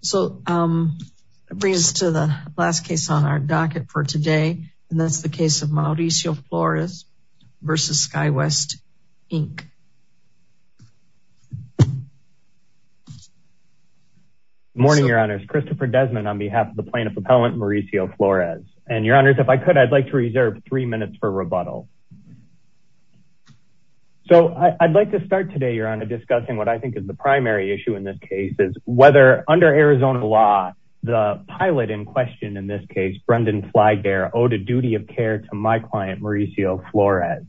So that brings us to the last case on our docket for today. And that's the case of Mauricio Flores v. Skywest, Inc. Good morning, Your Honors. Christopher Desmond on behalf of the Plaintiff Appellant Mauricio Flores. And Your Honors, if I could, I'd like to reserve three minutes for rebuttal. So I'd like to start today, Your Honor, discussing what I think is the primary issue in this case, whether, under Arizona law, the pilot in question in this case, Brendan Flygare, owed a duty of care to my client, Mauricio Flores.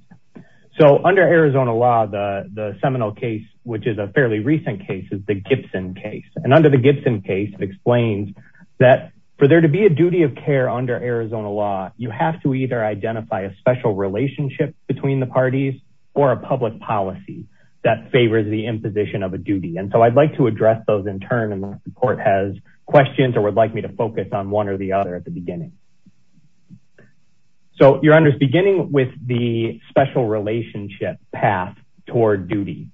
So under Arizona law, the seminal case, which is a fairly recent case, is the Gibson case. And under the Gibson case, it explains that for there to be a duty of care under Arizona law, you have to either identify a special relationship between the parties or a public policy that favors the imposition of a duty. And so I'd like to address those in turn unless the court has questions or would like me to focus on one or the other at the beginning. So Your Honors, beginning with the special relationship path toward duty.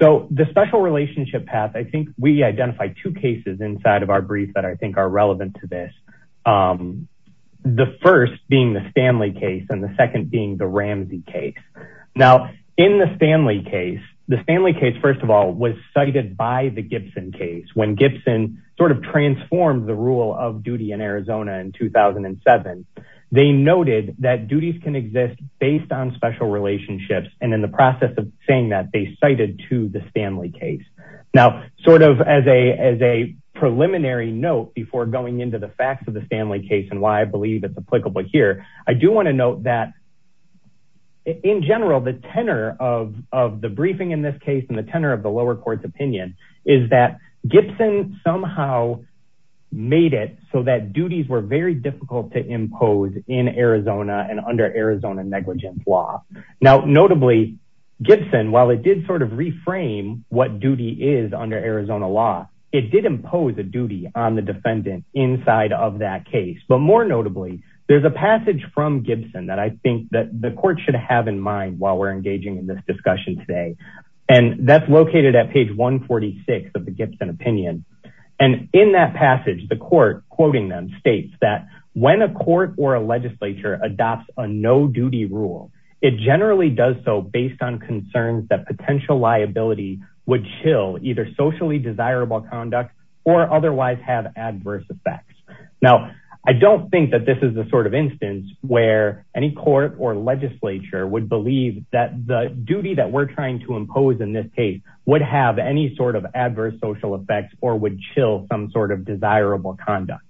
So the special relationship path, I think we identify two cases inside of our brief that I think are relevant to this. The first being the Stanley case and the second being Ramsey case. Now, in the Stanley case, the Stanley case, first of all, was cited by the Gibson case. When Gibson sort of transformed the rule of duty in Arizona in 2007, they noted that duties can exist based on special relationships. And in the process of saying that, they cited to the Stanley case. Now, sort of as a preliminary note before going into the facts of the Stanley case and why I believe it's applicable here, I do want to note that in general, the tenor of the briefing in this case and the tenor of the lower court's opinion is that Gibson somehow made it so that duties were very difficult to impose in Arizona and under Arizona negligence law. Now, notably, Gibson, while it did sort of reframe what duty is under Arizona law, it did impose a duty on the defendant inside of that case. But more notably, there's a passage from Gibson that I think that the court should have in mind while we're engaging in this discussion today. And that's located at page 146 of the Gibson opinion. And in that passage, the court quoting them states that when a court or a legislature adopts a no-duty rule, it generally does so based on concerns that potential liability would chill either socially desirable conduct or otherwise have adverse effects. Now, I don't think that this is the sort of instance where any court or legislature would believe that the duty that we're trying to impose in this case would have any sort of adverse social effects or would chill some sort of desirable conduct.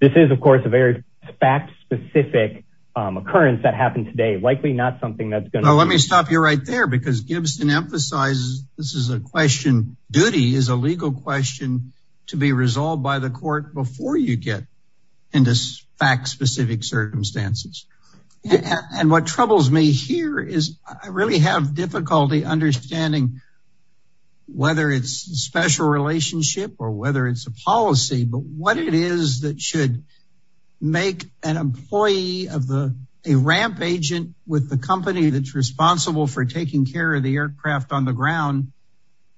This is, of course, a very fact-specific occurrence that happened today, likely not something that's going to... Let me stop you right there, because Gibson emphasizes this is a question. Duty is a legal question to be resolved by the court before you get into fact-specific circumstances. And what troubles me here is I really have difficulty understanding whether it's special relationship or whether it's a policy, but what it is that should make an employee of a ramp agent with the company that's responsible for taking care of the aircraft on the ground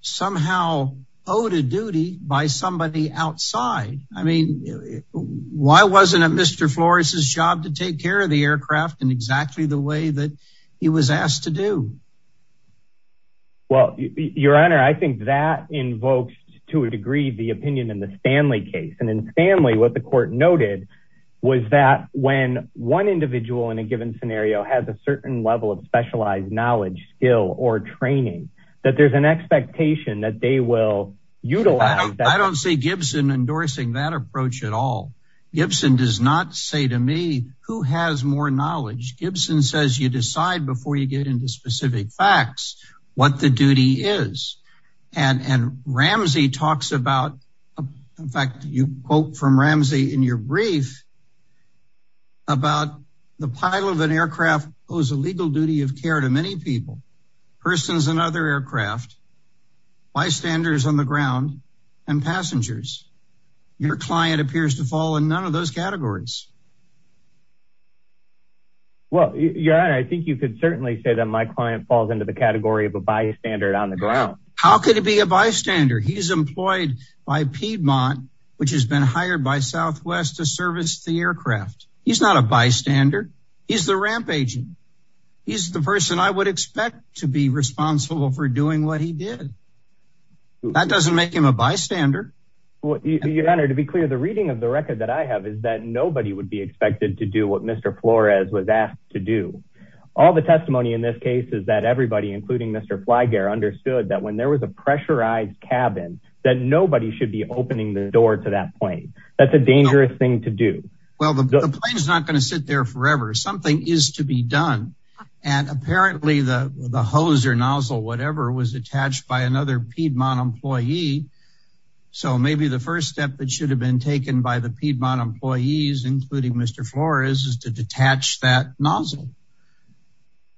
somehow owed a duty by somebody outside. I mean, why wasn't it Mr. Flores's job to take care of the aircraft in exactly the way that he was asked to do? Well, your honor, I think that invokes to a degree the opinion in the Stanley case. And Stanley, what the court noted, was that when one individual in a given scenario has a certain level of specialized knowledge, skill, or training, that there's an expectation that they will utilize... I don't see Gibson endorsing that approach at all. Gibson does not say to me who has more knowledge. Gibson says you decide before you get into specific facts what the duty is. And Ramsey talks about, in fact, you quote from Ramsey in your brief about the pilot of an aircraft owes a legal duty of care to many people, persons and other aircraft, bystanders on the ground, and passengers. Your client appears to fall in none of those categories. Well, your honor, I think you could certainly say that my client falls into the category of a bystander on the ground. How could it be a bystander? He's employed by Piedmont, which has been hired by Southwest to service the aircraft. He's not a bystander. He's the ramp agent. He's the person I would expect to be responsible for doing what he did. That doesn't make him a bystander. Your honor, to be clear, the reading of the record that I have is that nobody would be expected to do what Mr. Flores was asked to do. All the testimony in this case is that everybody, including Mr. Flyger, understood that when there was a pressurized cabin, that nobody should be opening the door to that plane. That's a dangerous thing to do. Well, the plane's not going to sit there forever. Something is to be done. And apparently the hose or nozzle, whatever, was attached by another Piedmont employee. So maybe the first step that should have been taken by the Piedmont employees, including Mr. Flores, is to detach that nozzle.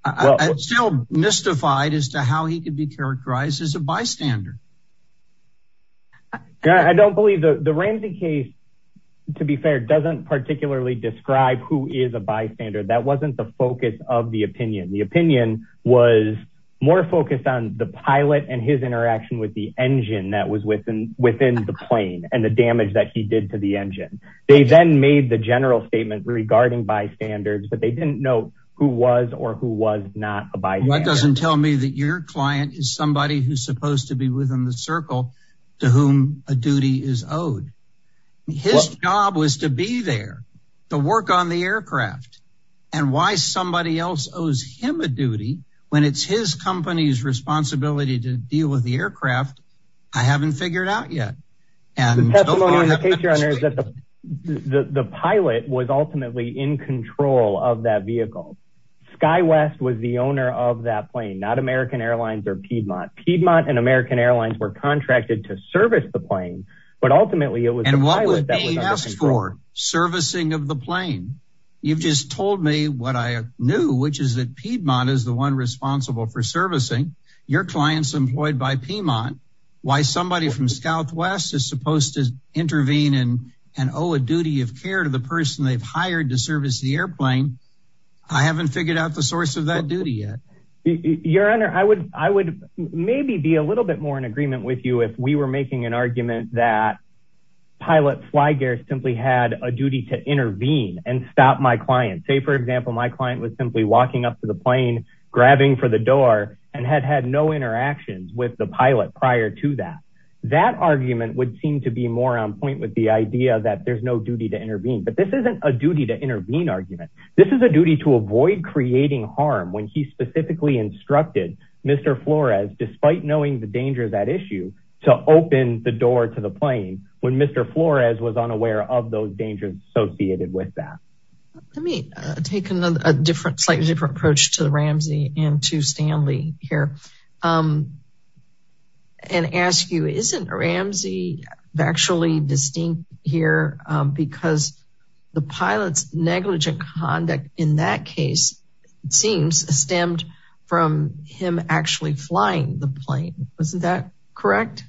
I'm still mystified as to how he could be characterized as a bystander. I don't believe the Ramsey case, to be fair, doesn't particularly describe who is a bystander. That wasn't the focus of the opinion. The opinion was more focused on the pilot and his interaction with the engine that was within the plane and the damage that he did to the engine. They then made the general statement regarding bystanders, but they didn't know who was or who was not a bystander. That doesn't tell me that your client is somebody who's supposed to be within the circle to whom a duty is owed. His job was to be there, to work on the aircraft. And why somebody else owes him a duty when it's his company's responsibility to deal with the aircraft, I haven't figured out yet. The case, Your Honor, is that the pilot was ultimately in control of that vehicle. SkyWest was the owner of that plane, not American Airlines or Piedmont. Piedmont and American Airlines were contracted to service the plane, but ultimately it was the pilot that was under control. And what would they ask for? Servicing of the plane? You've just told me what I knew, which is that Piedmont is the one responsible for servicing your clients employed by Piedmont. Why somebody from SkyWest is supposed to intervene and owe a duty of care to the person they've hired to service the airplane. I haven't figured out the source of that duty yet. Your Honor, I would maybe be a little bit more in agreement with you if we were making an argument that pilot Flygear simply had a duty to intervene and stop my client. Say, for example, my client was simply walking up to the plane, grabbing for the door and had had no interactions with the pilot prior to that. That argument would seem to be more on point with the idea that there's no duty to intervene. But this isn't a duty to intervene argument. This is a duty to avoid creating harm when he specifically instructed Mr. Flores, despite knowing the danger of that issue, to open the door to the plane when Mr. Flores was unaware of those dangers associated with that. Let me take a slightly different approach to the Ramsey and to Stanley here. And ask you, isn't Ramsey actually distinct here because the pilot's negligent conduct in that case seems stemmed from him actually flying the plane. Isn't that correct?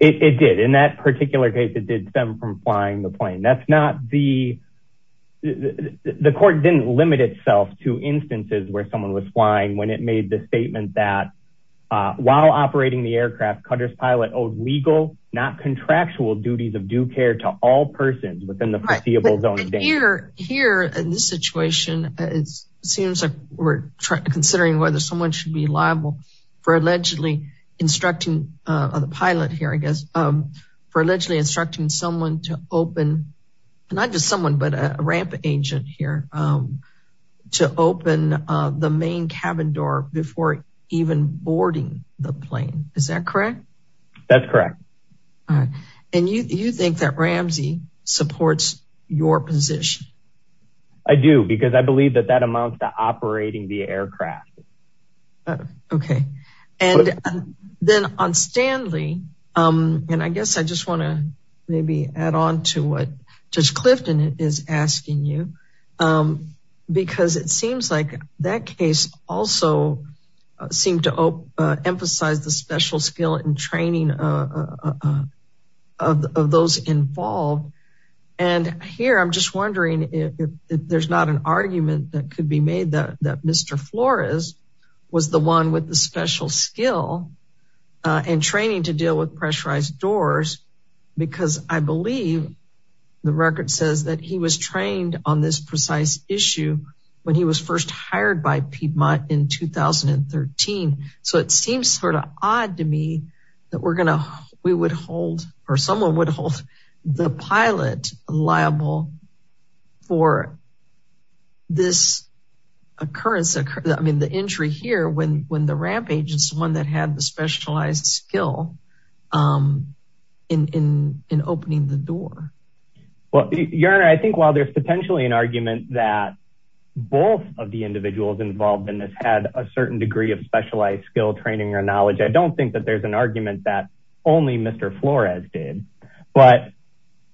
It did. In that particular case, it did stem from flying the plane. The court didn't limit itself to instances where someone was flying when it made the statement that while operating the aircraft, Cutter's pilot owed legal, not contractual duties of due care to all persons within the foreseeable zone of danger. Here, in this situation, it seems like we're considering whether someone should be liable for allegedly instructing someone to open, not just someone, but a ramp agent here, to open the main cabin door before even boarding the plane. Is that correct? That's correct. All right. And you think that Ramsey supports your position? I do, because I believe that that amounts to operating the aircraft. Okay. And then on Stanley, and I guess I just want to maybe add on to what Judge Clifton is asking you, because it seems like that case also seemed to emphasize the special skill and training of those involved. And here, I'm just wondering if there's not an argument that could be made that Mr. Flores was the one with the special skill and training to deal with pressurized doors, because I believe the record says that he was trained on this precise issue when he was first hired by Piedmont in 2013. So it seems sort of odd to me that we would hold, or someone would hold the pilot liable for this occurrence, I mean, the entry here when the ramp agent is the one that had the specialized skill in opening the door. Well, Your Honor, I think while there's potentially an argument that both of the individuals involved in this had a certain degree of specialized skill, training, or knowledge, I don't think that there's an argument that only Mr. Flores did. But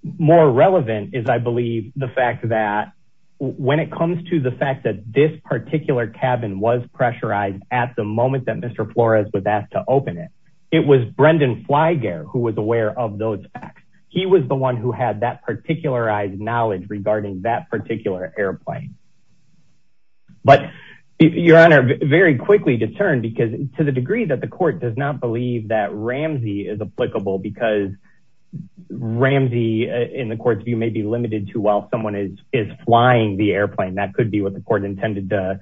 more relevant is, I believe, the fact that when it comes to the fact that this particular cabin was pressurized at the moment that Mr. Flores was asked to open it, it was Brendan Flygare who was aware of those facts. He was the one who had that particularized knowledge regarding that particular airplane. But Your Honor, very quickly to turn, because to the degree that the court does not believe that Ramsey is applicable, because Ramsey, in the court's view, may be limited to while someone is flying the airplane. That could be what the court intended to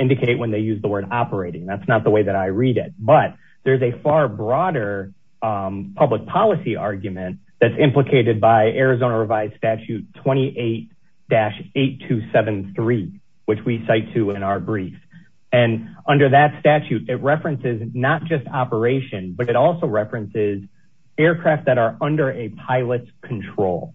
indicate when they use the word operating. That's not the way that I read it. But there's a far broader public policy argument that's implicated by Arizona revised statute 28-8273, which we cite to in our brief. Under that statute, it references not just operation, but it also references aircraft that are under a pilot's control.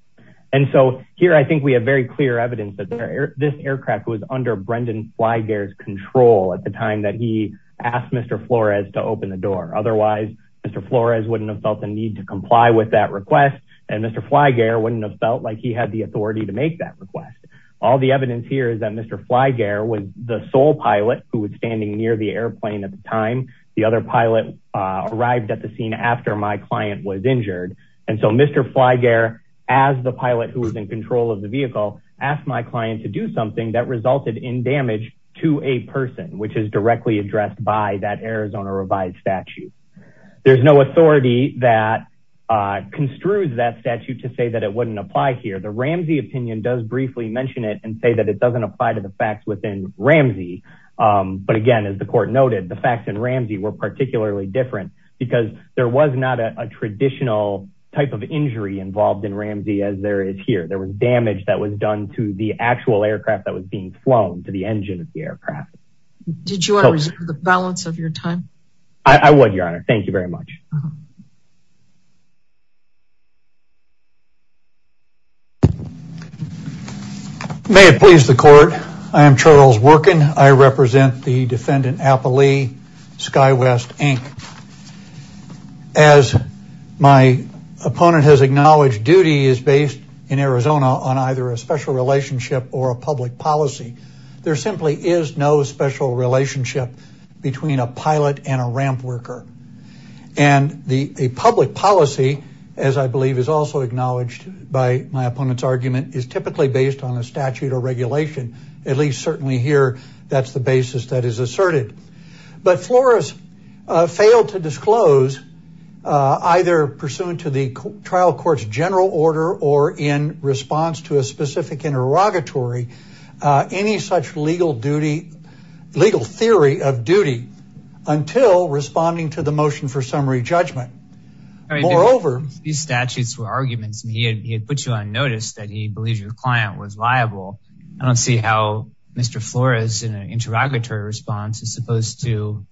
Here, I think we have very clear evidence that this aircraft was under Brendan Flygare's control at the time that he asked Mr. Flores to open the door. Otherwise, Mr. Flores wouldn't have felt the need to comply with that request, and Mr. Flygare wouldn't have felt like he had the authority to make that request. All the evidence here is that Mr. Flygare was the sole pilot who was standing near the airplane at the time. The other pilot arrived at the scene after my client was injured. And so Mr. Flygare, as the pilot who was in control of the vehicle, asked my client to do something that resulted in damage to a person, which is directly addressed by that Arizona revised statute. There's no authority that construed that statute to say that it wouldn't apply here. The Ramsey opinion does briefly mention it and say that it doesn't apply to the facts within Ramsey. But again, as the court noted, the facts in Ramsey were particularly different because there was not a traditional type of injury involved in Ramsey as there is here. There was damage that was done to the actual aircraft that was being flown to the engine of the aircraft. Did you want to reserve the balance of your time? I would, Your Honor. Thank you very much. May it please the court. I am Charles Workin. I represent the defendant, Appali SkyWest, Inc. As my opponent has acknowledged, duty is based in Arizona on either a special relationship or a public policy. There simply is no special relationship between a pilot and a ramp worker. And a public policy, as I believe is also acknowledged by my opponent's argument, is typically based on a statute or regulation. At least certainly here, that's the basis that is asserted. But Flores failed to disclose, either pursuant to the trial court's general order or in response to a specific interrogatory, any such legal theory of duty until responding to the motion for summary judgment. Moreover... These statutes were arguments and he had put you on notice that he believed your client was liable. I don't see how Mr. Flores, in an interrogatory response, is supposed to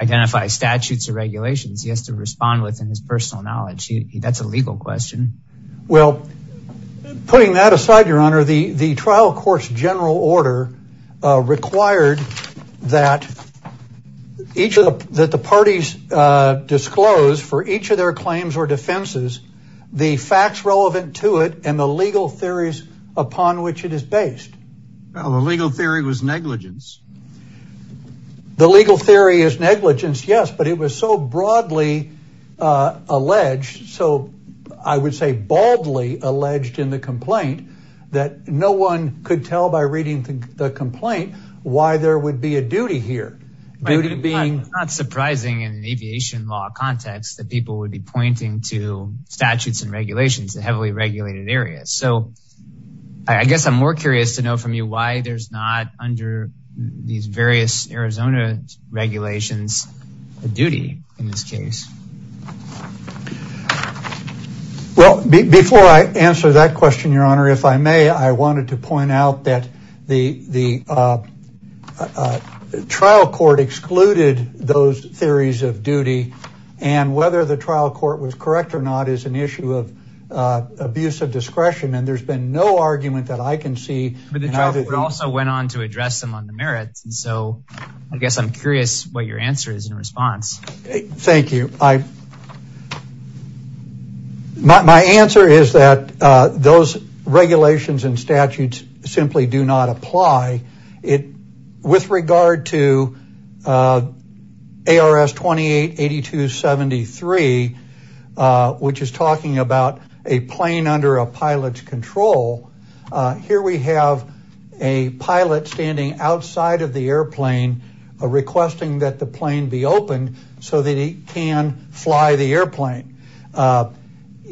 identify statutes or regulations. He has to respond within his personal knowledge. That's a legal question. Well, putting that aside, Your Honor, the trial court's general order required that the parties disclose, for each of their claims or defenses, the facts relevant to it and the legal theories upon which it is based. The legal theory was negligence. The legal theory is negligence, yes. But it was so broadly alleged. So I would say baldly alleged in the complaint that no one could tell by reading the complaint why there would be a duty here. I mean, it's not surprising in an aviation law context that people would be pointing to statutes and regulations, the heavily regulated areas. So I guess I'm more curious to know from you why there's not, under these various Arizona regulations, a duty in this case. Well, before I answer that question, Your Honor, if I may, I wanted to point out that the trial court excluded those theories of duty. And whether the trial court was correct or not is an issue of abuse of discretion. And there's been no argument that I can see. But the trial court also went on to address them on the merits. And so I guess I'm curious what your answer is in response. Thank you. My answer is that those regulations and statutes simply do not apply. With regard to ARS 288273, which is talking about a plane under a pilot's control, here we have a pilot standing outside of the airplane requesting that the plane be opened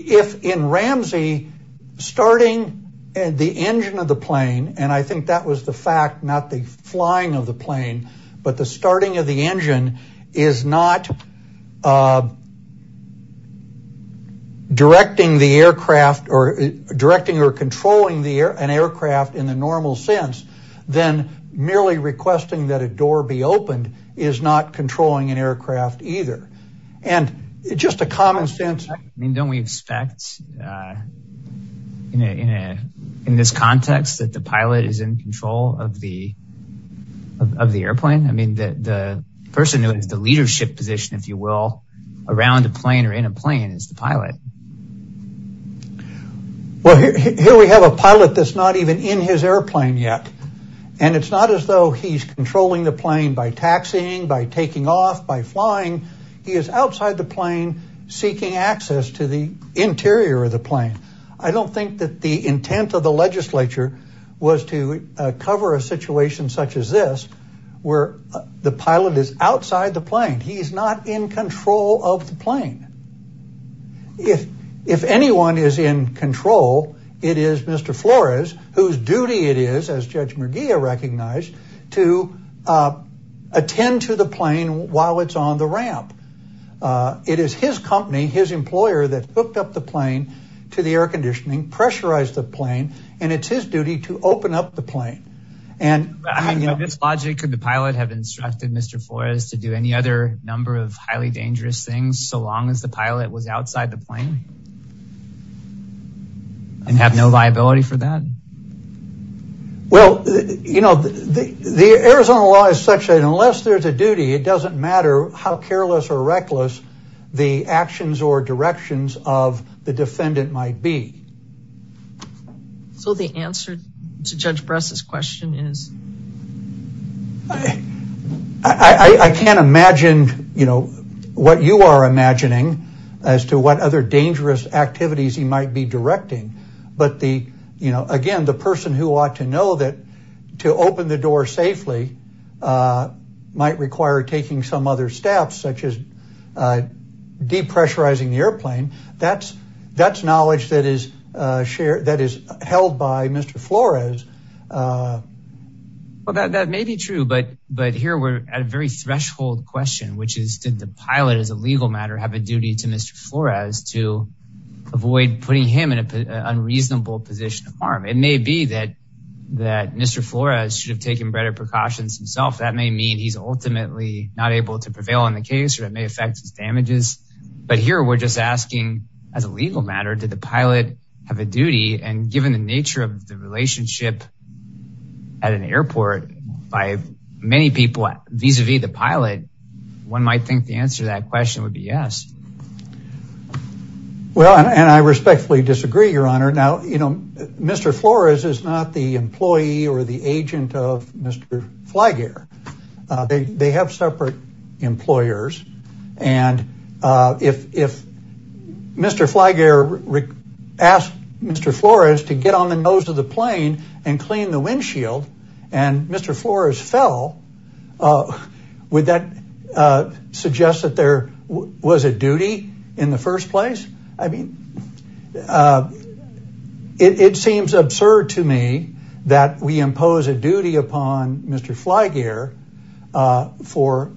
if in Ramsey starting the engine of the plane. And I think that was the fact, not the flying of the plane. But the starting of the engine is not directing the aircraft or directing or controlling an aircraft in the normal sense than merely requesting that a door be opened is not controlling an aircraft either. And it's just a common sense. I mean, don't we expect in this context that the pilot is in control of the airplane? I mean, the person who has the leadership position, if you will, around a plane or in a plane is the pilot. Well, here we have a pilot that's not even in his airplane yet. And it's not as though he's controlling the plane by taxiing, by taking off, by flying. He is outside the plane seeking access to the interior of the plane. I don't think that the intent of the legislature was to cover a situation such as this, where the pilot is outside the plane. He's not in control of the plane. If anyone is in control, it is Mr. Flores, whose duty it is, as Judge Merguia recognized, to attend to the plane while it's on the ramp. It is his company, his employer that hooked up the plane to the air conditioning, pressurized the plane, and it's his duty to open up the plane. And I mean, in this logic, could the pilot have instructed Mr. Flores to do any other number of highly dangerous things so long as the pilot was outside the plane? And have no liability for that? Well, you know, the Arizona law is such that unless there's a duty, it doesn't matter how careless or reckless the actions or directions of the defendant might be. So the answer to Judge Bress's question is? I can't imagine, you know, what you are imagining as to what other dangerous activities he might be directing. But again, the person who ought to know that to open the door safely might require taking some other steps, such as depressurizing the airplane. That's knowledge that is held by Mr. Flores. Well, that may be true. But here we're at a very threshold question, which is, did the pilot, as a legal matter, have a duty to Mr. Flores to avoid putting him in an unreasonable position of harm? It may be that Mr. Flores should have taken better precautions himself. That may mean he's ultimately not able to prevail in the case, or it may affect his damages. But here we're just asking, as a legal matter, did the pilot have a duty? And given the nature of the relationship at an airport by many people vis-a-vis the pilot, one might think the answer to that question would be yes. Well, and I respectfully disagree, Your Honor. Now, you know, Mr. Flores is not the employee or the agent of Mr. Flygear. They have separate employers. And if Mr. Flygear asked Mr. Flores to get on the nose of the plane and clean the windshield, and Mr. Flores fell, would that suggest that there was a duty in the first place? I mean, it seems absurd to me that we impose a duty upon Mr. Flygear for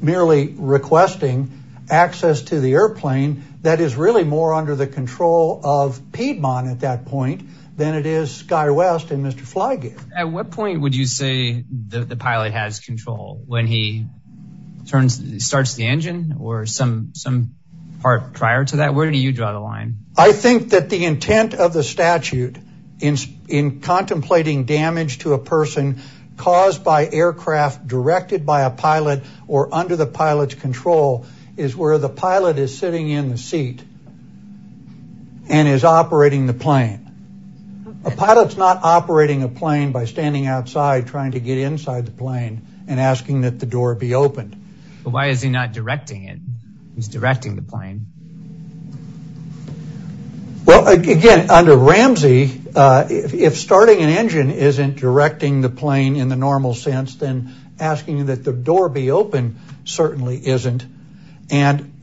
merely requesting access to the airplane that is really more under the control of Piedmont at that point than it is SkyWest and Mr. Flygear. At what point would you say that the pilot has control? When he starts the engine or some part prior to that? Where do you draw the line? I think that the intent of the statute in contemplating damage to a person caused by aircraft directed by a pilot or under the pilot's control is where the pilot is sitting in the seat and is operating the plane. A pilot's not operating a plane by standing outside trying to get inside the plane and asking that the door be opened. But why is he not directing it? He's directing the plane. Well, again, under Ramsey, if starting an engine isn't directing the plane in the normal sense, then asking that the door be opened certainly isn't. And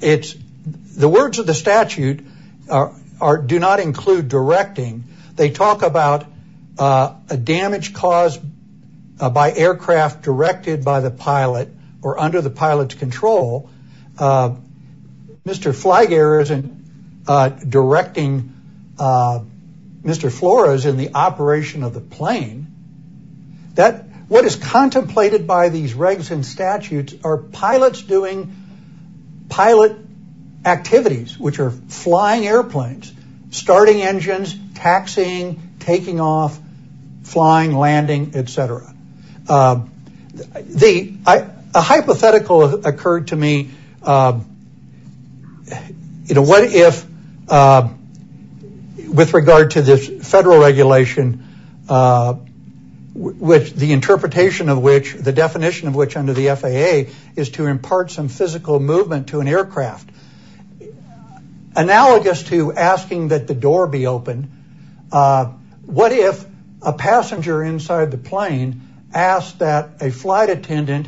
the words of the statute do not include directing. They talk about a damage caused by aircraft directed by the pilot or under the pilot's control. Mr. Flygear isn't directing Mr. Flores in the operation of the plane. What is contemplated by these regs and statutes are pilots doing pilot activities, which are flying airplanes, starting engines, taxiing, taking off, flying, landing, et cetera. A hypothetical occurred to me, what if with regard to this federal regulation, the interpretation of which, the definition of which under the FAA is to impart some physical movement to an aircraft. It's analogous to asking that the door be opened. What if a passenger inside the plane asked that a flight attendant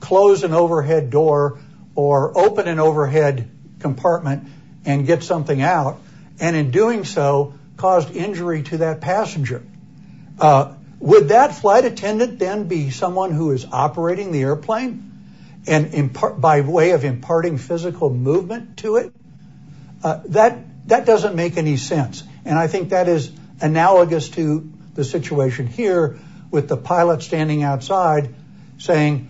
close an overhead door or open an overhead compartment and get something out? And in doing so, caused injury to that passenger. Would that flight attendant then be someone who is operating the airplane by way of imparting movement to it? That doesn't make any sense. And I think that is analogous to the situation here with the pilot standing outside saying,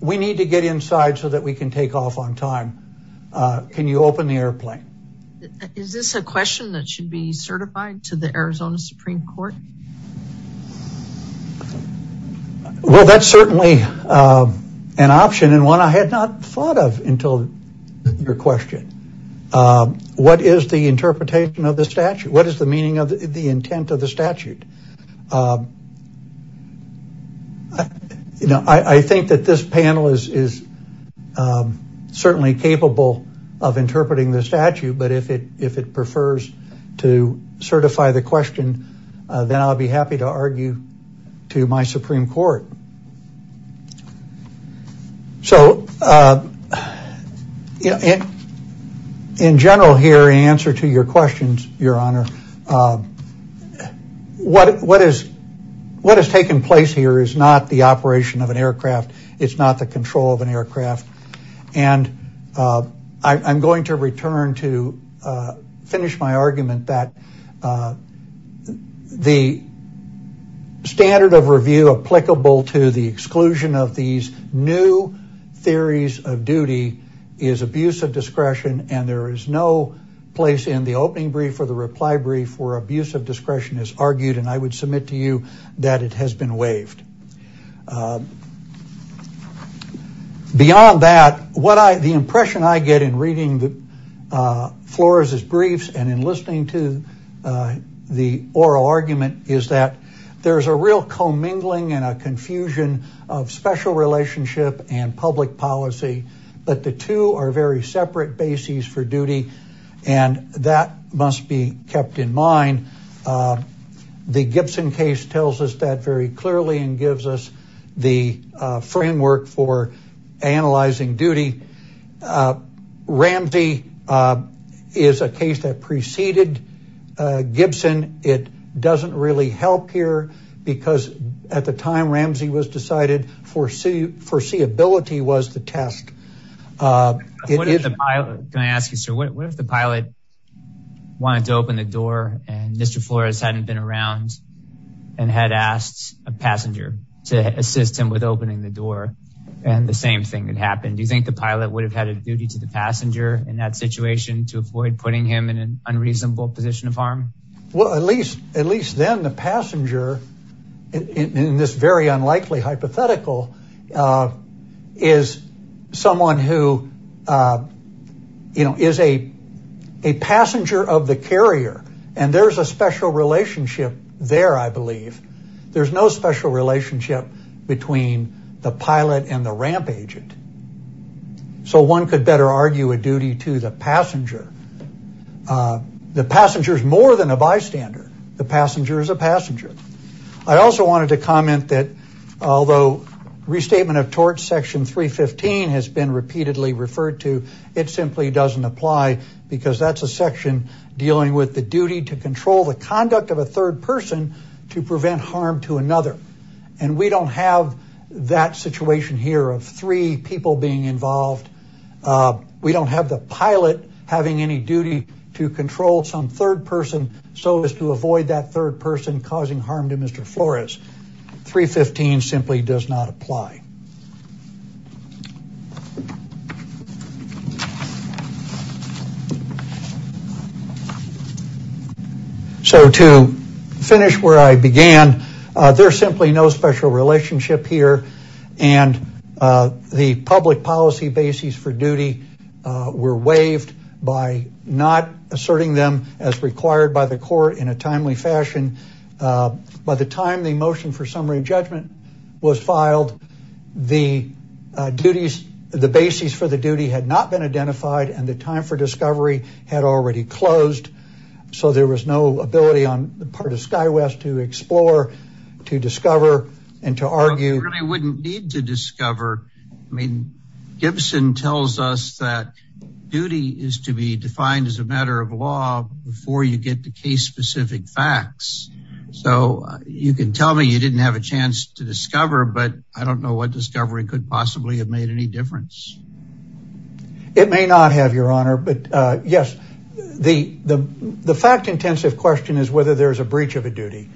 we need to get inside so that we can take off on time. Can you open the airplane? Is this a question that should be certified to the Arizona Supreme Court? Well, that's certainly an option and one I had not thought of until your question. What is the interpretation of the statute? What is the meaning of the intent of the statute? I think that this panel is certainly capable of interpreting the statute. But if it prefers to certify the question, then I'll be happy to argue to my Supreme Court. So in general here, in answer to your questions, Your Honor, what has taken place here is not the operation of an aircraft. And I'm going to return to finish my argument that the standard of review applicable to the exclusion of these new theories of duty is abuse of discretion. And there is no place in the opening brief or the reply brief where abuse of discretion is argued. And I would submit to you that it has been waived. Beyond that, the impression I get in reading the Flores' briefs and in listening to the oral argument is that there's a real commingling and a confusion of special relationship and public policy. But the two are very separate bases for duty. And that must be kept in mind. The Gibson case tells us that very clearly. And gives us the framework for analyzing duty. Ramsey is a case that preceded Gibson. It doesn't really help here. Because at the time Ramsey was decided, foreseeability was the test. Can I ask you, sir, what if the pilot wanted to open the door and Mr. Flores hadn't been around and had asked a passenger to assist him with opening the door and the same thing had happened? Do you think the pilot would have had a duty to the passenger in that situation to avoid putting him in an unreasonable position of harm? Well, at least then the passenger, in this very unlikely hypothetical, is someone who is a passenger of the carrier. And there's a special relationship there, I believe. There's no special relationship between the pilot and the ramp agent. So one could better argue a duty to the passenger. The passenger is more than a bystander. The passenger is a passenger. I also wanted to comment that although restatement of tort section 315 has been repeatedly referred to, it simply doesn't apply. Because that's a section dealing with the duty to control the conduct of a third person to prevent harm to another. And we don't have that situation here of three people being involved. We don't have the pilot having any duty to control some third person so as to avoid that third person causing harm to Mr. Flores. 315 simply does not apply. So to finish where I began, there's simply no special relationship here. And the public policy bases for duty were waived by not asserting them as required by the court in a timely fashion. By the time the motion for summary judgment was filed, the duties, the bases for the duty had not been identified. And the time for discovery had already closed. So there was no ability on the part of SkyWest to explore, to discover, and to argue. You really wouldn't need to discover. I mean, Gibson tells us that duty is to be defined as a matter of law before you get the case specific facts. So you can tell me you didn't have a chance to discover, but I don't know what discovery could possibly have made any difference. It may not have, Your Honor, but yes, the fact-intensive question is whether there's a breach of a duty.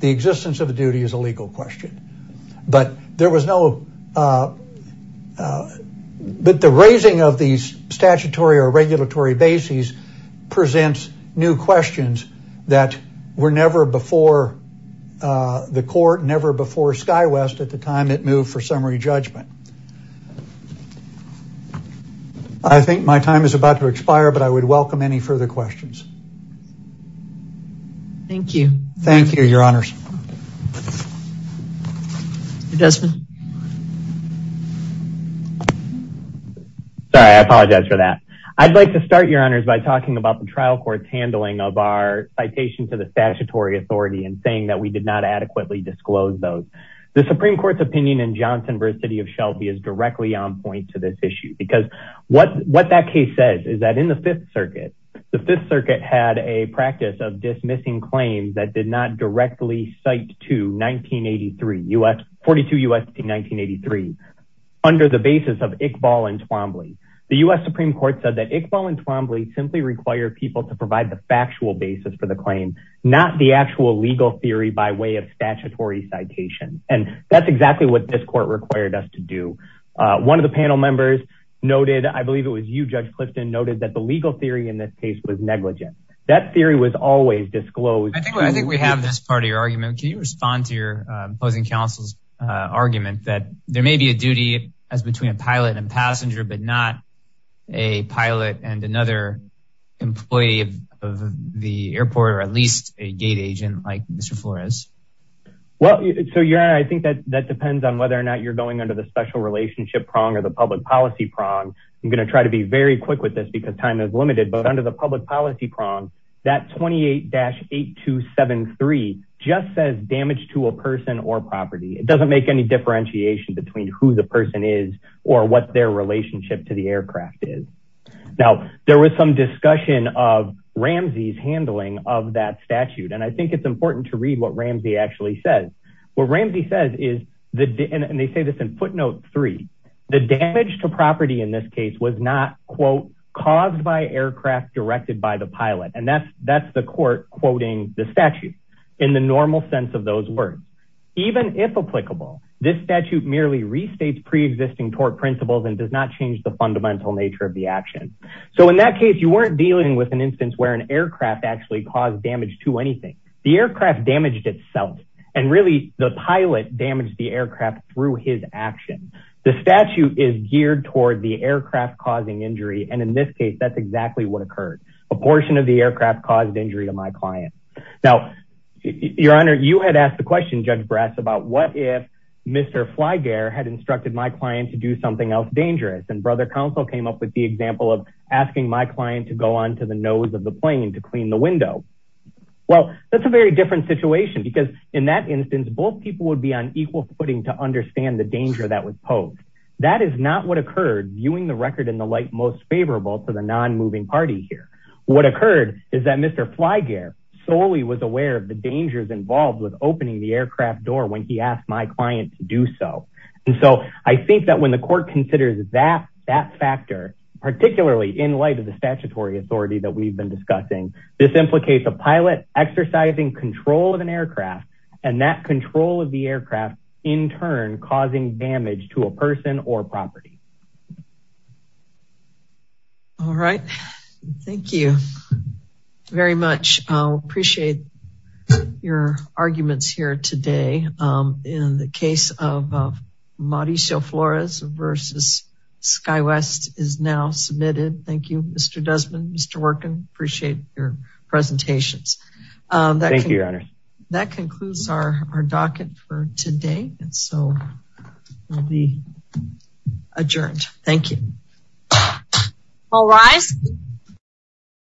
The existence of a duty is a legal question. But there was no, but the raising of these statutory or regulatory bases presents new questions that were never before the court, never before SkyWest at the time it moved for summary judgment. I think my time is about to expire, but I would welcome any further questions. Thank you. Thank you, Your Honors. Mr. Desmond. Sorry, I apologize for that. I'd like to start, Your Honors, by talking about the trial court's handling of our citation to the statutory authority and saying that we did not adequately disclose those. The Supreme Court's opinion in Johnson v. City of Shelby is directly on point to this what that case says is that in the Fifth Circuit, the Fifth Circuit had a practice of dismissing claims that did not directly cite to 1942 U.S. v. 1983 under the basis of Iqbal and Twombly. The U.S. Supreme Court said that Iqbal and Twombly simply require people to provide the factual basis for the claim, not the actual legal theory by way of statutory citation. And that's exactly what this court required us to do. One of the panel members noted, I believe it was you, Judge Clifton, noted that the legal theory in this case was negligent. That theory was always disclosed. I think we have this part of your argument. Can you respond to your opposing counsel's argument that there may be a duty as between a pilot and passenger, but not a pilot and another employee of the airport or at least a gate agent like Mr. Flores? Well, so Your Honor, I think that that depends on whether or not you're going under the special relationship prong or the public policy prong. I'm going to try to be very quick with this because time is limited. But under the public policy prong, that 28-8273 just says damage to a person or property. It doesn't make any differentiation between who the person is or what their relationship to the aircraft is. Now, there was some discussion of Ramsey's handling of that statute. And I think it's important to read what Ramsey actually says. What Ramsey says is, and they say this in footnote three, the damage to property in this case was not, quote, caused by aircraft directed by the pilot. And that's the court quoting the statute in the normal sense of those words. Even if applicable, this statute merely restates preexisting tort principles and does not change the fundamental nature of the action. So in that case, you weren't dealing with an instance where an aircraft actually caused damage to anything. The aircraft damaged itself. And really, the pilot damaged the aircraft through his action. The statute is geared toward the aircraft causing injury. And in this case, that's exactly what occurred. A portion of the aircraft caused injury to my client. Now, your honor, you had asked the question, Judge Bratz, about what if Mr. Flygear had instructed my client to do something else dangerous. And brother counsel came up with the example of asking my client to go on to the nose of the plane to clean the window. Well, that's a very different situation. Because in that instance, both people would be on equal footing to understand the danger that was posed. That is not what occurred viewing the record in the light most favorable to the non-moving party here. What occurred is that Mr. Flygear solely was aware of the dangers involved with opening the aircraft door when he asked my client to do so. And so I think that when the court considers that factor, particularly in light of the case of pilot exercising control of an aircraft, and that control of the aircraft in turn causing damage to a person or property. All right, thank you very much. I appreciate your arguments here today. In the case of Mauricio Flores versus SkyWest is now submitted. Thank you, Mr. Desmond, Mr. Worken. Appreciate your presentations. Thank you, your honor. That concludes our docket for today. And so we'll be adjourned. Thank you. All rise.